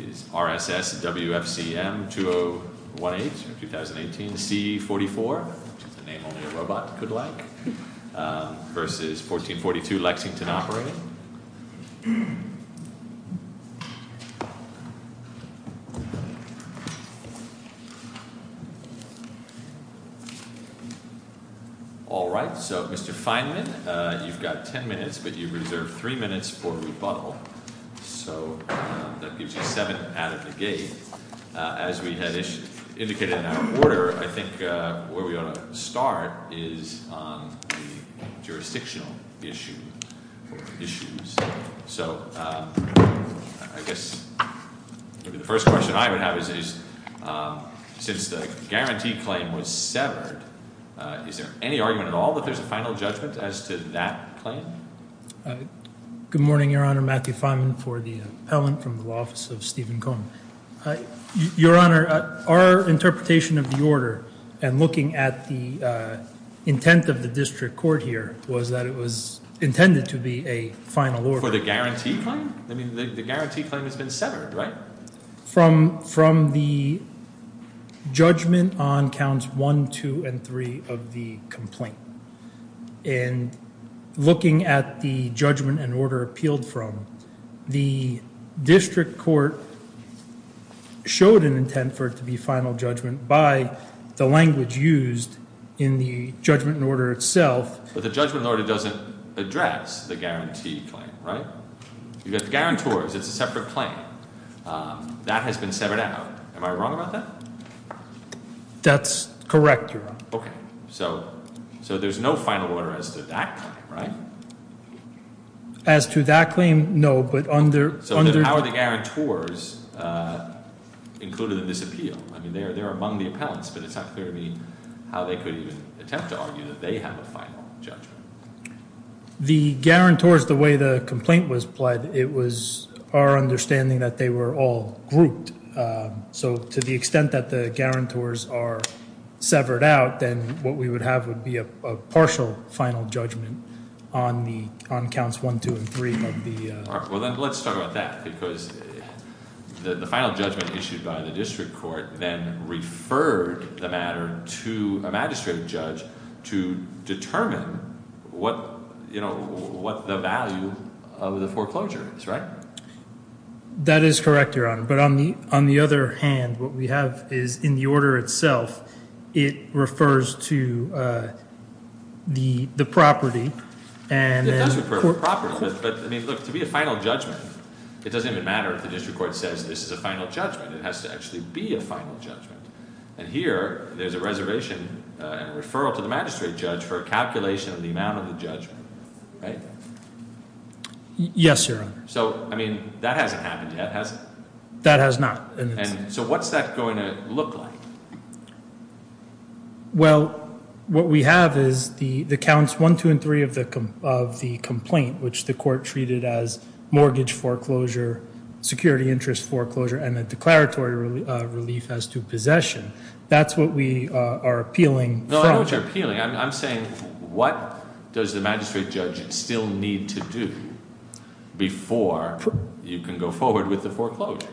is RSS WFCM 2018 C44, which is a name only a robot could like, versus 1442 Lexington Operating. All right, so Mr. Feynman, you've got 10 minutes, but you've reserved three minutes for rebuttal. So that gives you seven out of the gate. As we had indicated in our order, I think where we ought to start is on the jurisdictional issues. So I guess maybe the first question I would have is, since the guarantee claim was severed, is there any argument at all that there's a final judgment as to that claim? Good morning, Your Honor. Matthew Feynman for the appellant from the office of Stephen Cohen. Your Honor, our interpretation of the order and looking at the intent of the district court here was that it was intended to be a final order. For the guarantee claim? I mean, the guarantee claim has been severed, right? From the judgment on counts one, two, and three of the complaint. And looking at the judgment and order appealed from, the district court showed an intent for it to be final judgment by the language used in the judgment and order itself. But the judgment order doesn't address the guarantee claim, right? You've got the guarantors. It's a separate claim. Am I wrong about that? That's correct, Your Honor. So there's no final order as to that claim, right? As to that claim, no. But under- So then how are the guarantors included in this appeal? I mean, they're among the appellants, but it's not clear to me how they could even attempt to argue that they have a final judgment. The guarantors, the way the complaint was pled, it was our understanding that they were all grouped. So to the extent that the guarantors are severed out, then what we would have would be a partial final judgment on counts one, two, and three of the- Well, then let's talk about that, because the final judgment issued by the district court then referred the matter to a magistrate judge to determine what the value of the foreclosure is, right? That is correct, Your Honor. But on the other hand, what we have is, in the order itself, it refers to the property, and then- It does refer to the property. But I mean, look, to be a final judgment, it doesn't even matter if the district court says this is a final judgment. It has to actually be a final judgment. And here, there's a reservation and referral to the magistrate judge for a calculation of the amount of the judgment, right? Yes, Your Honor. So I mean, that hasn't happened yet, has it? That has not. So what's that going to look like? Well, what we have is the counts one, two, and three of the complaint, which the court treated as mortgage foreclosure, security interest foreclosure, and a declaratory relief as to possession. That's what we are appealing from. No, I know what you're appealing. I'm saying, what does the magistrate judge still need to do before you can go forward with the foreclosure?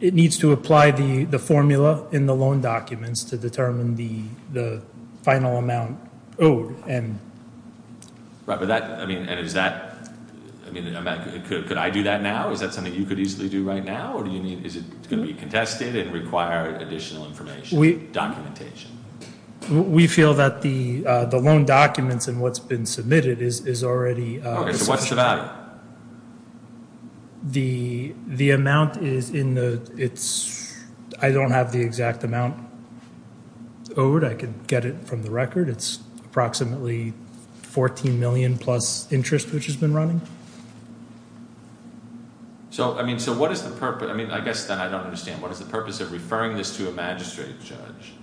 It needs to apply the formula in the loan documents to determine the final amount owed. And- Right, but that, I mean, and is that, I mean, could I do that now? Is that something you could easily do right now? Or do you need, is it going to be contested and require additional information, documentation? We feel that the loan documents and what's been submitted is already- Okay, so what's the value? The amount is in the, it's, I don't have the exact amount owed. I could get it from the record. It's approximately 14 million plus interest, which has been running. So, I mean, so what is the purpose? I mean, I guess then I don't understand. What is the purpose of referring this to a magistrate judge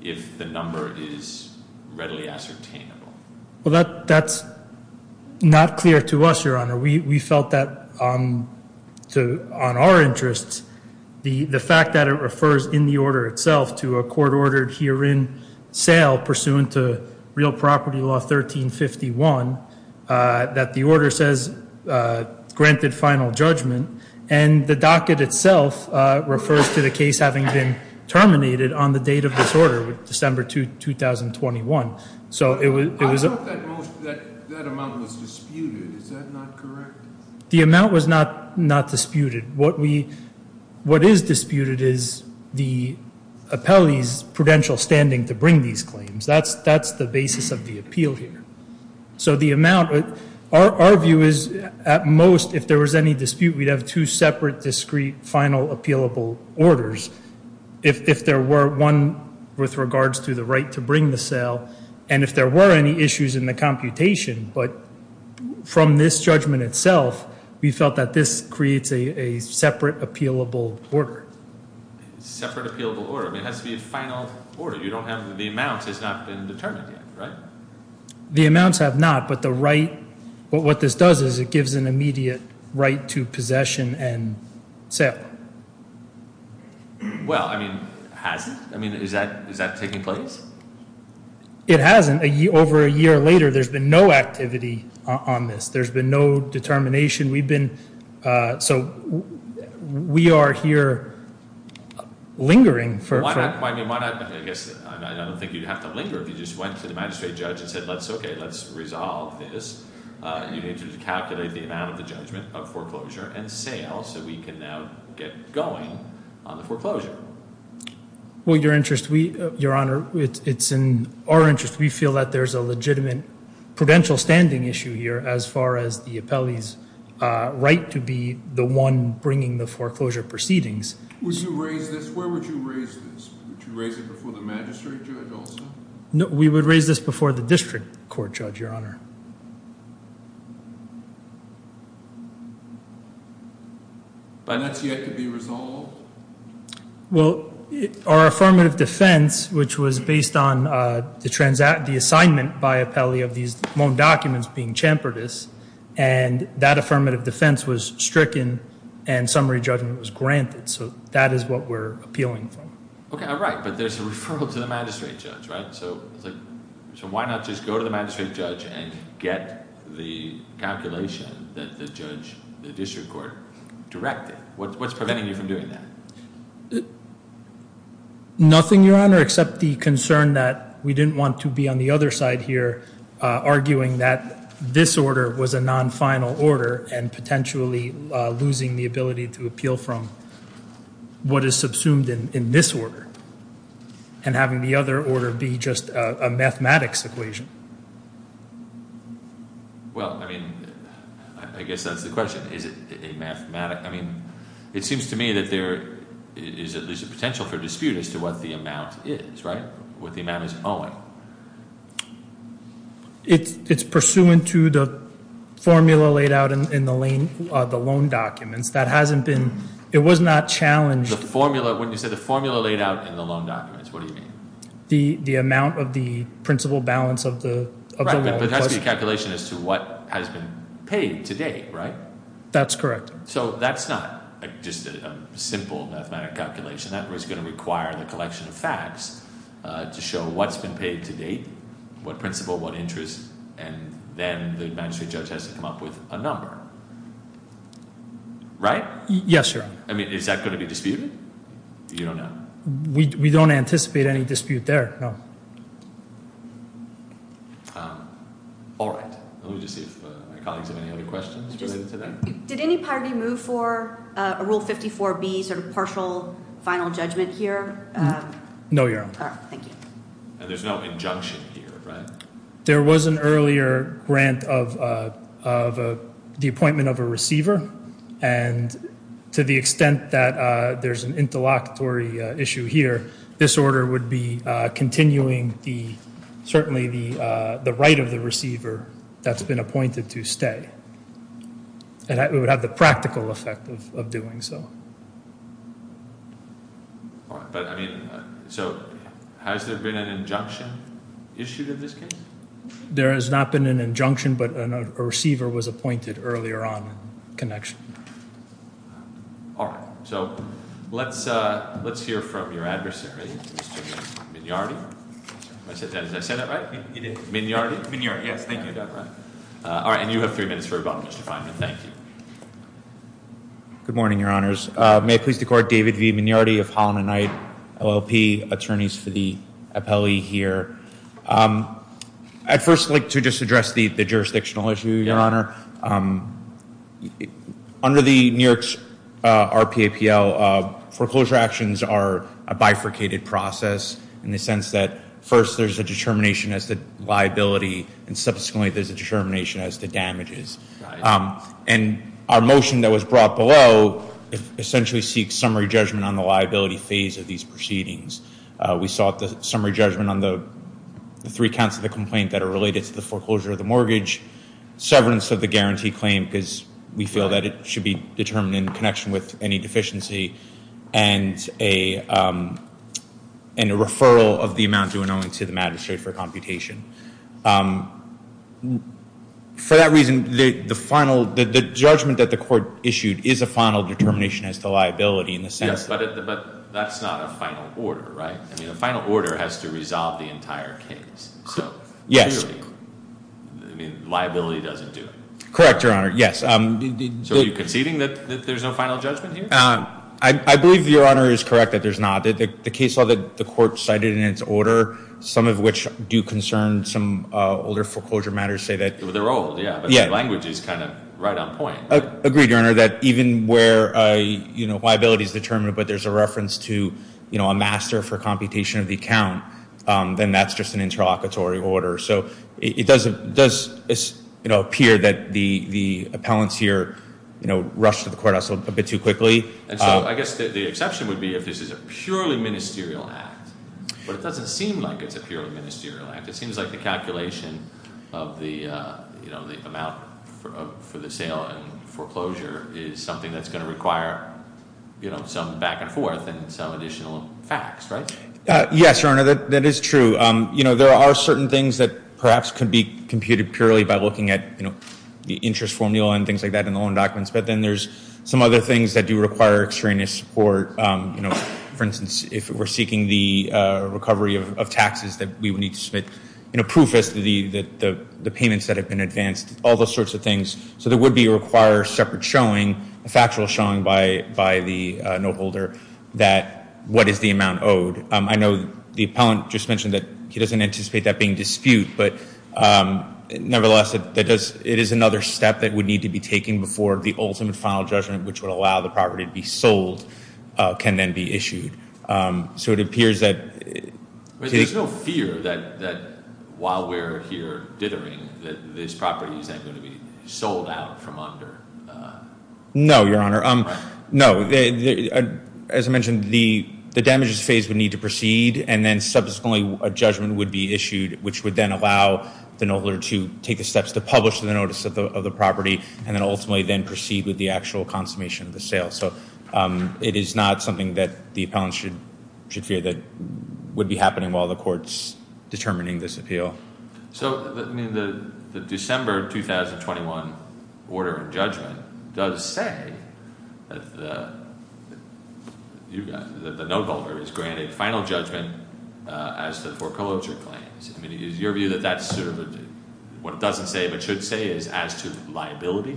if the number is readily ascertainable? Well, that's not clear to us, Your Honor. We felt that on our interests, the fact that it refers in the order itself to a court-ordered herein sale pursuant to Real Property Law 1351, that the order says granted final judgment, and the docket itself refers to the case having been terminated on the date of this order, December 2, 2021. So it was- I thought that most, that amount was disputed. Is that not correct? The amount was not disputed. What is disputed is the appellee's prudential standing to bring these claims. That's the basis of the appeal here. So the amount, our view is at most, if there was any dispute, we'd have two separate discrete final appealable orders. If there were one with regards to the right to bring the sale, and if there were any issues in the computation, but from this judgment itself, we felt that this creates a separate appealable order. Separate appealable order. I mean, it has to be a final order. You don't have, the amount has not been determined yet, right? The amounts have not, but the right, what this does is it gives an immediate right to possession and sale. Well, I mean, has it? I mean, is that taking place? It hasn't. Over a year later, there's been no activity on this. There's been no determination. We've been, so we are here lingering for- Why not? I guess, I don't think you'd have to linger if you just went to the magistrate judge and said, okay, let's resolve this. You need to calculate the amount of the judgment of foreclosure and sale, so we can now get going on the foreclosure. Well, your interest, your honor, it's in our interest. We feel that there's a legitimate prudential standing issue here, as far as the appellee's right to be the one bringing the foreclosure proceedings. Would you raise this? Where would you raise this? Would you raise it before the magistrate judge also? No, we would raise this before the district court, judge, your honor. But that's yet to be resolved? Well, our affirmative defense, which was based on the assignment by appellee of these loan documents being chamfered, and that affirmative defense was stricken and summary judgment was granted, so that is what we're appealing from. Okay, all right, but there's a referral to the magistrate judge, right? So why not just go to the magistrate judge and get the calculation that the judge, the district court, directed? What's preventing you from doing that? Nothing, your honor, except the concern that we didn't want to be on the other side here arguing that this order was a non-final order and potentially losing the ability to appeal from what is subsumed in this order, and having the other order be just a mathematics equation. Well, I mean, I guess that's the question. Is it a mathematics, I mean, it seems to me that there is a potential for dispute as to what the amount is, right? What the amount is owing. It's pursuant to the formula laid out in the loan documents. That hasn't been, it was not challenged. The formula, when you said the formula laid out in the loan documents, what do you mean? The amount of the principal balance of the loan. Right, but that's the calculation as to what has been paid to date, right? That's correct. So that's not just a simple mathematic calculation. That was gonna require the collection of facts to show what's been paid to date, what principal, what interest, and then the magistrate judge has to come up with a number. Right? Yes, your honor. I mean, is that gonna be disputed? You don't know. We don't anticipate any dispute there, no. All right, let me just see if my colleagues have any other questions related to that. Did any party move for a Rule 54B sort of partial final judgment here? No, your honor. All right, thank you. And there's no injunction here, right? There was an earlier grant of the appointment of a receiver and to the extent that there's an interlocutory issue here, this order would be continuing the, certainly the right of the receiver that's been appointed to stay. And it would have the practical effect of doing so. All right, but I mean, so has there been an injunction issued in this case? There has not been an injunction, but a receiver was appointed earlier on in connection. All right, so let's hear from your adversary, Mr. Mignardi. Did I say that right? You did. Mignardi? Mignardi, yes, thank you, that's right. All right, and you have three minutes for a bottomless definition. Thank you. Good morning, your honors. May it please the court, David V. Mignardi of Holland & Knight, LLP, attorneys for the appellee here. I'd first like to just address the jurisdictional issue, your honor. Under the New York's RPAPL, foreclosure actions are a bifurcated process in the sense that first there's a determination as to liability, and subsequently there's a determination as to damages. And our motion that was brought below essentially seeks summary judgment on the liability phase of these proceedings. We sought the summary judgment on the three counts of the complaint that are related to the foreclosure of the mortgage, severance of the guarantee claim, because we feel that it should be determined in connection with any deficiency, and a referral of the amount due and owing to the magistrate for computation. For that reason, the final, the judgment that the court issued is a final determination as to liability in the sense that- Yes, but that's not a final order, right? I mean, a final order has to resolve the entire case. So, clearly, I mean, liability doesn't do it. Correct, your honor, yes. So are you conceding that there's no final judgment here? I believe your honor is correct that there's not. The case law that the court cited in its order some of which do concern some older foreclosure matters say that- They're old, yeah, but the language is kind of right on point. Agreed, your honor, that even where liability is determined but there's a reference to a master for computation of the account, then that's just an interlocutory order. So it does appear that the appellants here rushed to the courthouse a bit too quickly. And so I guess the exception would be if this is a purely ministerial act, but it doesn't seem like it's a purely ministerial act. It seems like the calculation of the amount for the sale and foreclosure is something that's gonna require some back and forth and some additional facts, right? Yes, your honor, that is true. There are certain things that perhaps could be computed purely by looking at the interest formula and things like that in the loan documents, but then there's some other things that do require extraneous support. You know, for instance, if we're seeking the recovery of taxes that we would need to submit, you know, proof as to the payments that have been advanced, all those sorts of things. So there would be a required separate showing, a factual showing by the note holder that what is the amount owed. I know the appellant just mentioned that he doesn't anticipate that being dispute, but nevertheless, it is another step that would need to be taken before the ultimate final judgment, which would allow the property to be sold, can then be issued. So it appears that... But there's no fear that while we're here dithering that this property isn't gonna be sold out from under... No, your honor. No, as I mentioned, the damages phase would need to proceed, and then subsequently a judgment would be issued, which would then allow the note holder to take the steps to publish the notice of the property, and then ultimately then proceed with the actual consummation of the sale. So it is not something that the appellant should fear that would be happening while the court's determining this appeal. So, I mean, the December 2021 order of judgment does say that the note holder is granted final judgment as to foreclosure claims. I mean, is your view that that's sort of what it doesn't say but should say is as to liability?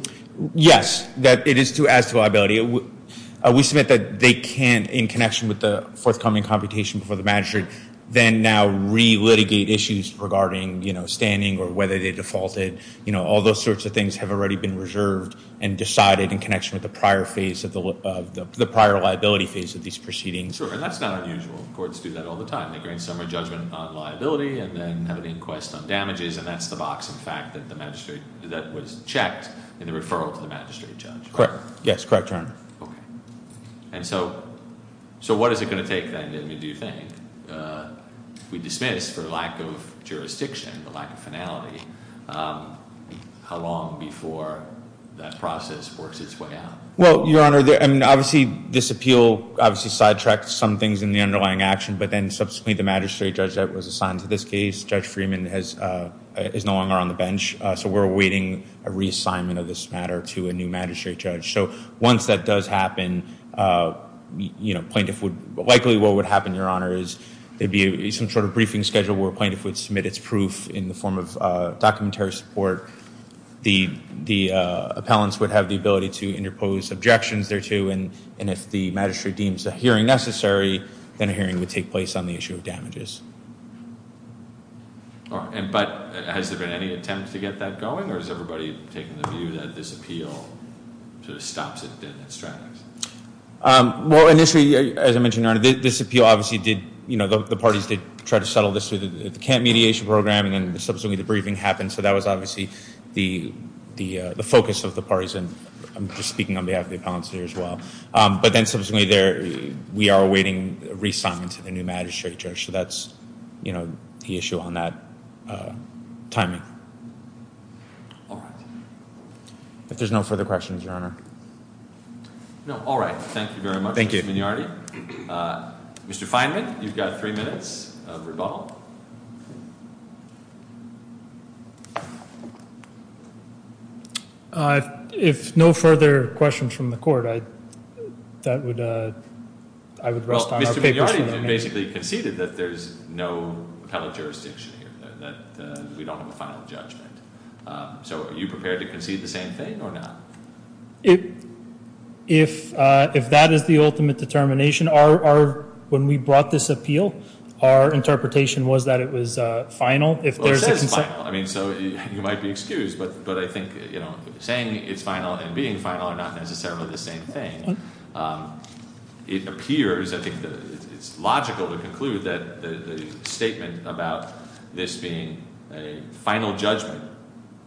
Yes, that it is as to liability. We submit that they can't, in connection with the forthcoming computation before the magistrate, then now re-litigate issues regarding standing or whether they defaulted. All those sorts of things have already been reserved and decided in connection with the prior phase of the prior liability phase of these proceedings. Sure, and that's not unusual. Courts do that all the time. They grant summary judgment on liability and then have an inquest on damages, and that's the box, in fact, that the magistrate, that was checked in the referral to the magistrate judge. Correct, yes, correct, Your Honor. Okay, and so what is it gonna take then, do you think, if we dismiss for lack of jurisdiction, the lack of finality, how long before that process works its way out? Well, Your Honor, I mean, obviously this appeal obviously sidetracked some things in the underlying action, but then subsequently the magistrate judge that was assigned to this case, Judge Freeman is no longer on the bench, so we're awaiting a reassignment of this matter to a new magistrate judge. So once that does happen, you know, plaintiff would, likely what would happen, Your Honor, is there'd be some sort of briefing schedule where a plaintiff would submit its proof in the form of documentary support. The appellants would have the ability to interpose objections thereto, and if the magistrate deems a hearing necessary, then a hearing would take place on the issue of damages. All right, but has there been any attempt to get that going, or has everybody taken the view that this appeal sort of stops it in its tracks? Well, initially, as I mentioned, Your Honor, this appeal obviously did, you know, the parties did try to settle this through the camp mediation program, and then subsequently the briefing happened, so that was obviously the focus of the parties, and I'm just speaking on behalf of the appellants here as well, but then subsequently there, we are awaiting reassignment to the new magistrate judge, so that's, you know, the issue on that timing. All right. If there's no further questions, Your Honor. No, all right, thank you very much, Mr. Mignardi. Mr. Feynman, you've got three minutes of rebuttal. If no further questions from the court, that would, I would rest on our papers for the day. Well, Mr. Mignardi basically conceded that there's no appellate jurisdiction here, that we don't have a final judgment, so are you prepared to concede the same thing, or not? If that is the ultimate determination, our, when we brought this appeal, our interpretation was that it was final, if there's a consent. Well, it says final, I mean, so you might be excused, but I think, you know, saying it's final and being final are not necessarily the same thing. It appears, I think that it's logical to conclude that the statement about this being a final judgment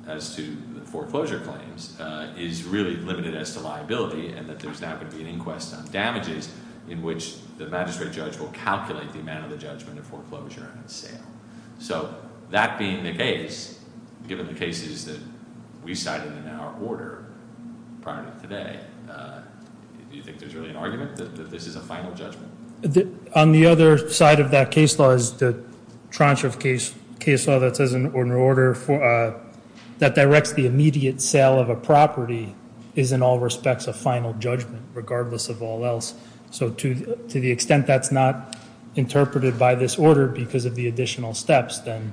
as to the foreclosure claims is really limited as to liability, and that there's now going to be an inquest on damages in which the magistrate judge will calculate the amount of the judgment of foreclosure and sale. So, that being the case, given the cases that we cited in our order prior to today, do you think there's really an argument that this is a final judgment? On the other side of that case law is the tranche of case law that says, in order for, that directs the immediate sale of a property is in all respects a final judgment, regardless of all else. So, to the extent that's not interpreted by this order because of the additional steps, then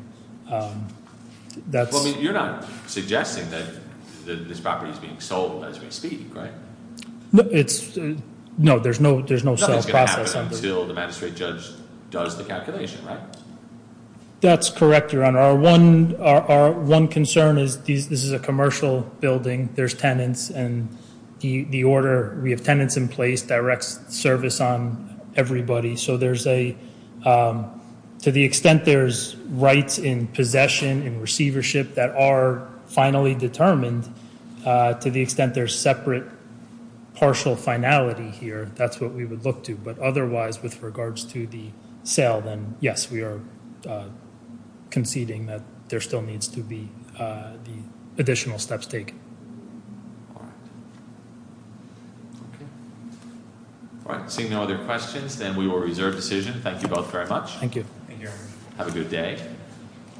that's. Well, I mean, you're not suggesting that this property's being sold as we speak, right? It's, no, there's no, there's no sale process under. Nothing's gonna happen until the magistrate judge does the calculation, right? That's correct, Your Honor. Our one concern is this is a commercial building, there's tenants, and the order, we have tenants in place, directs service on everybody. So, there's a, to the extent there's rights in possession and receivership that are finally determined, to the extent there's separate, partial finality here, that's what we would look to. But otherwise, with regards to the sale, then yes, we are conceding that there still needs to be the additional steps taken. All right. Okay. All right, seeing no other questions, then we will reserve decision. Thank you both very much. Thank you. Thank you, Your Honor. Have a good day.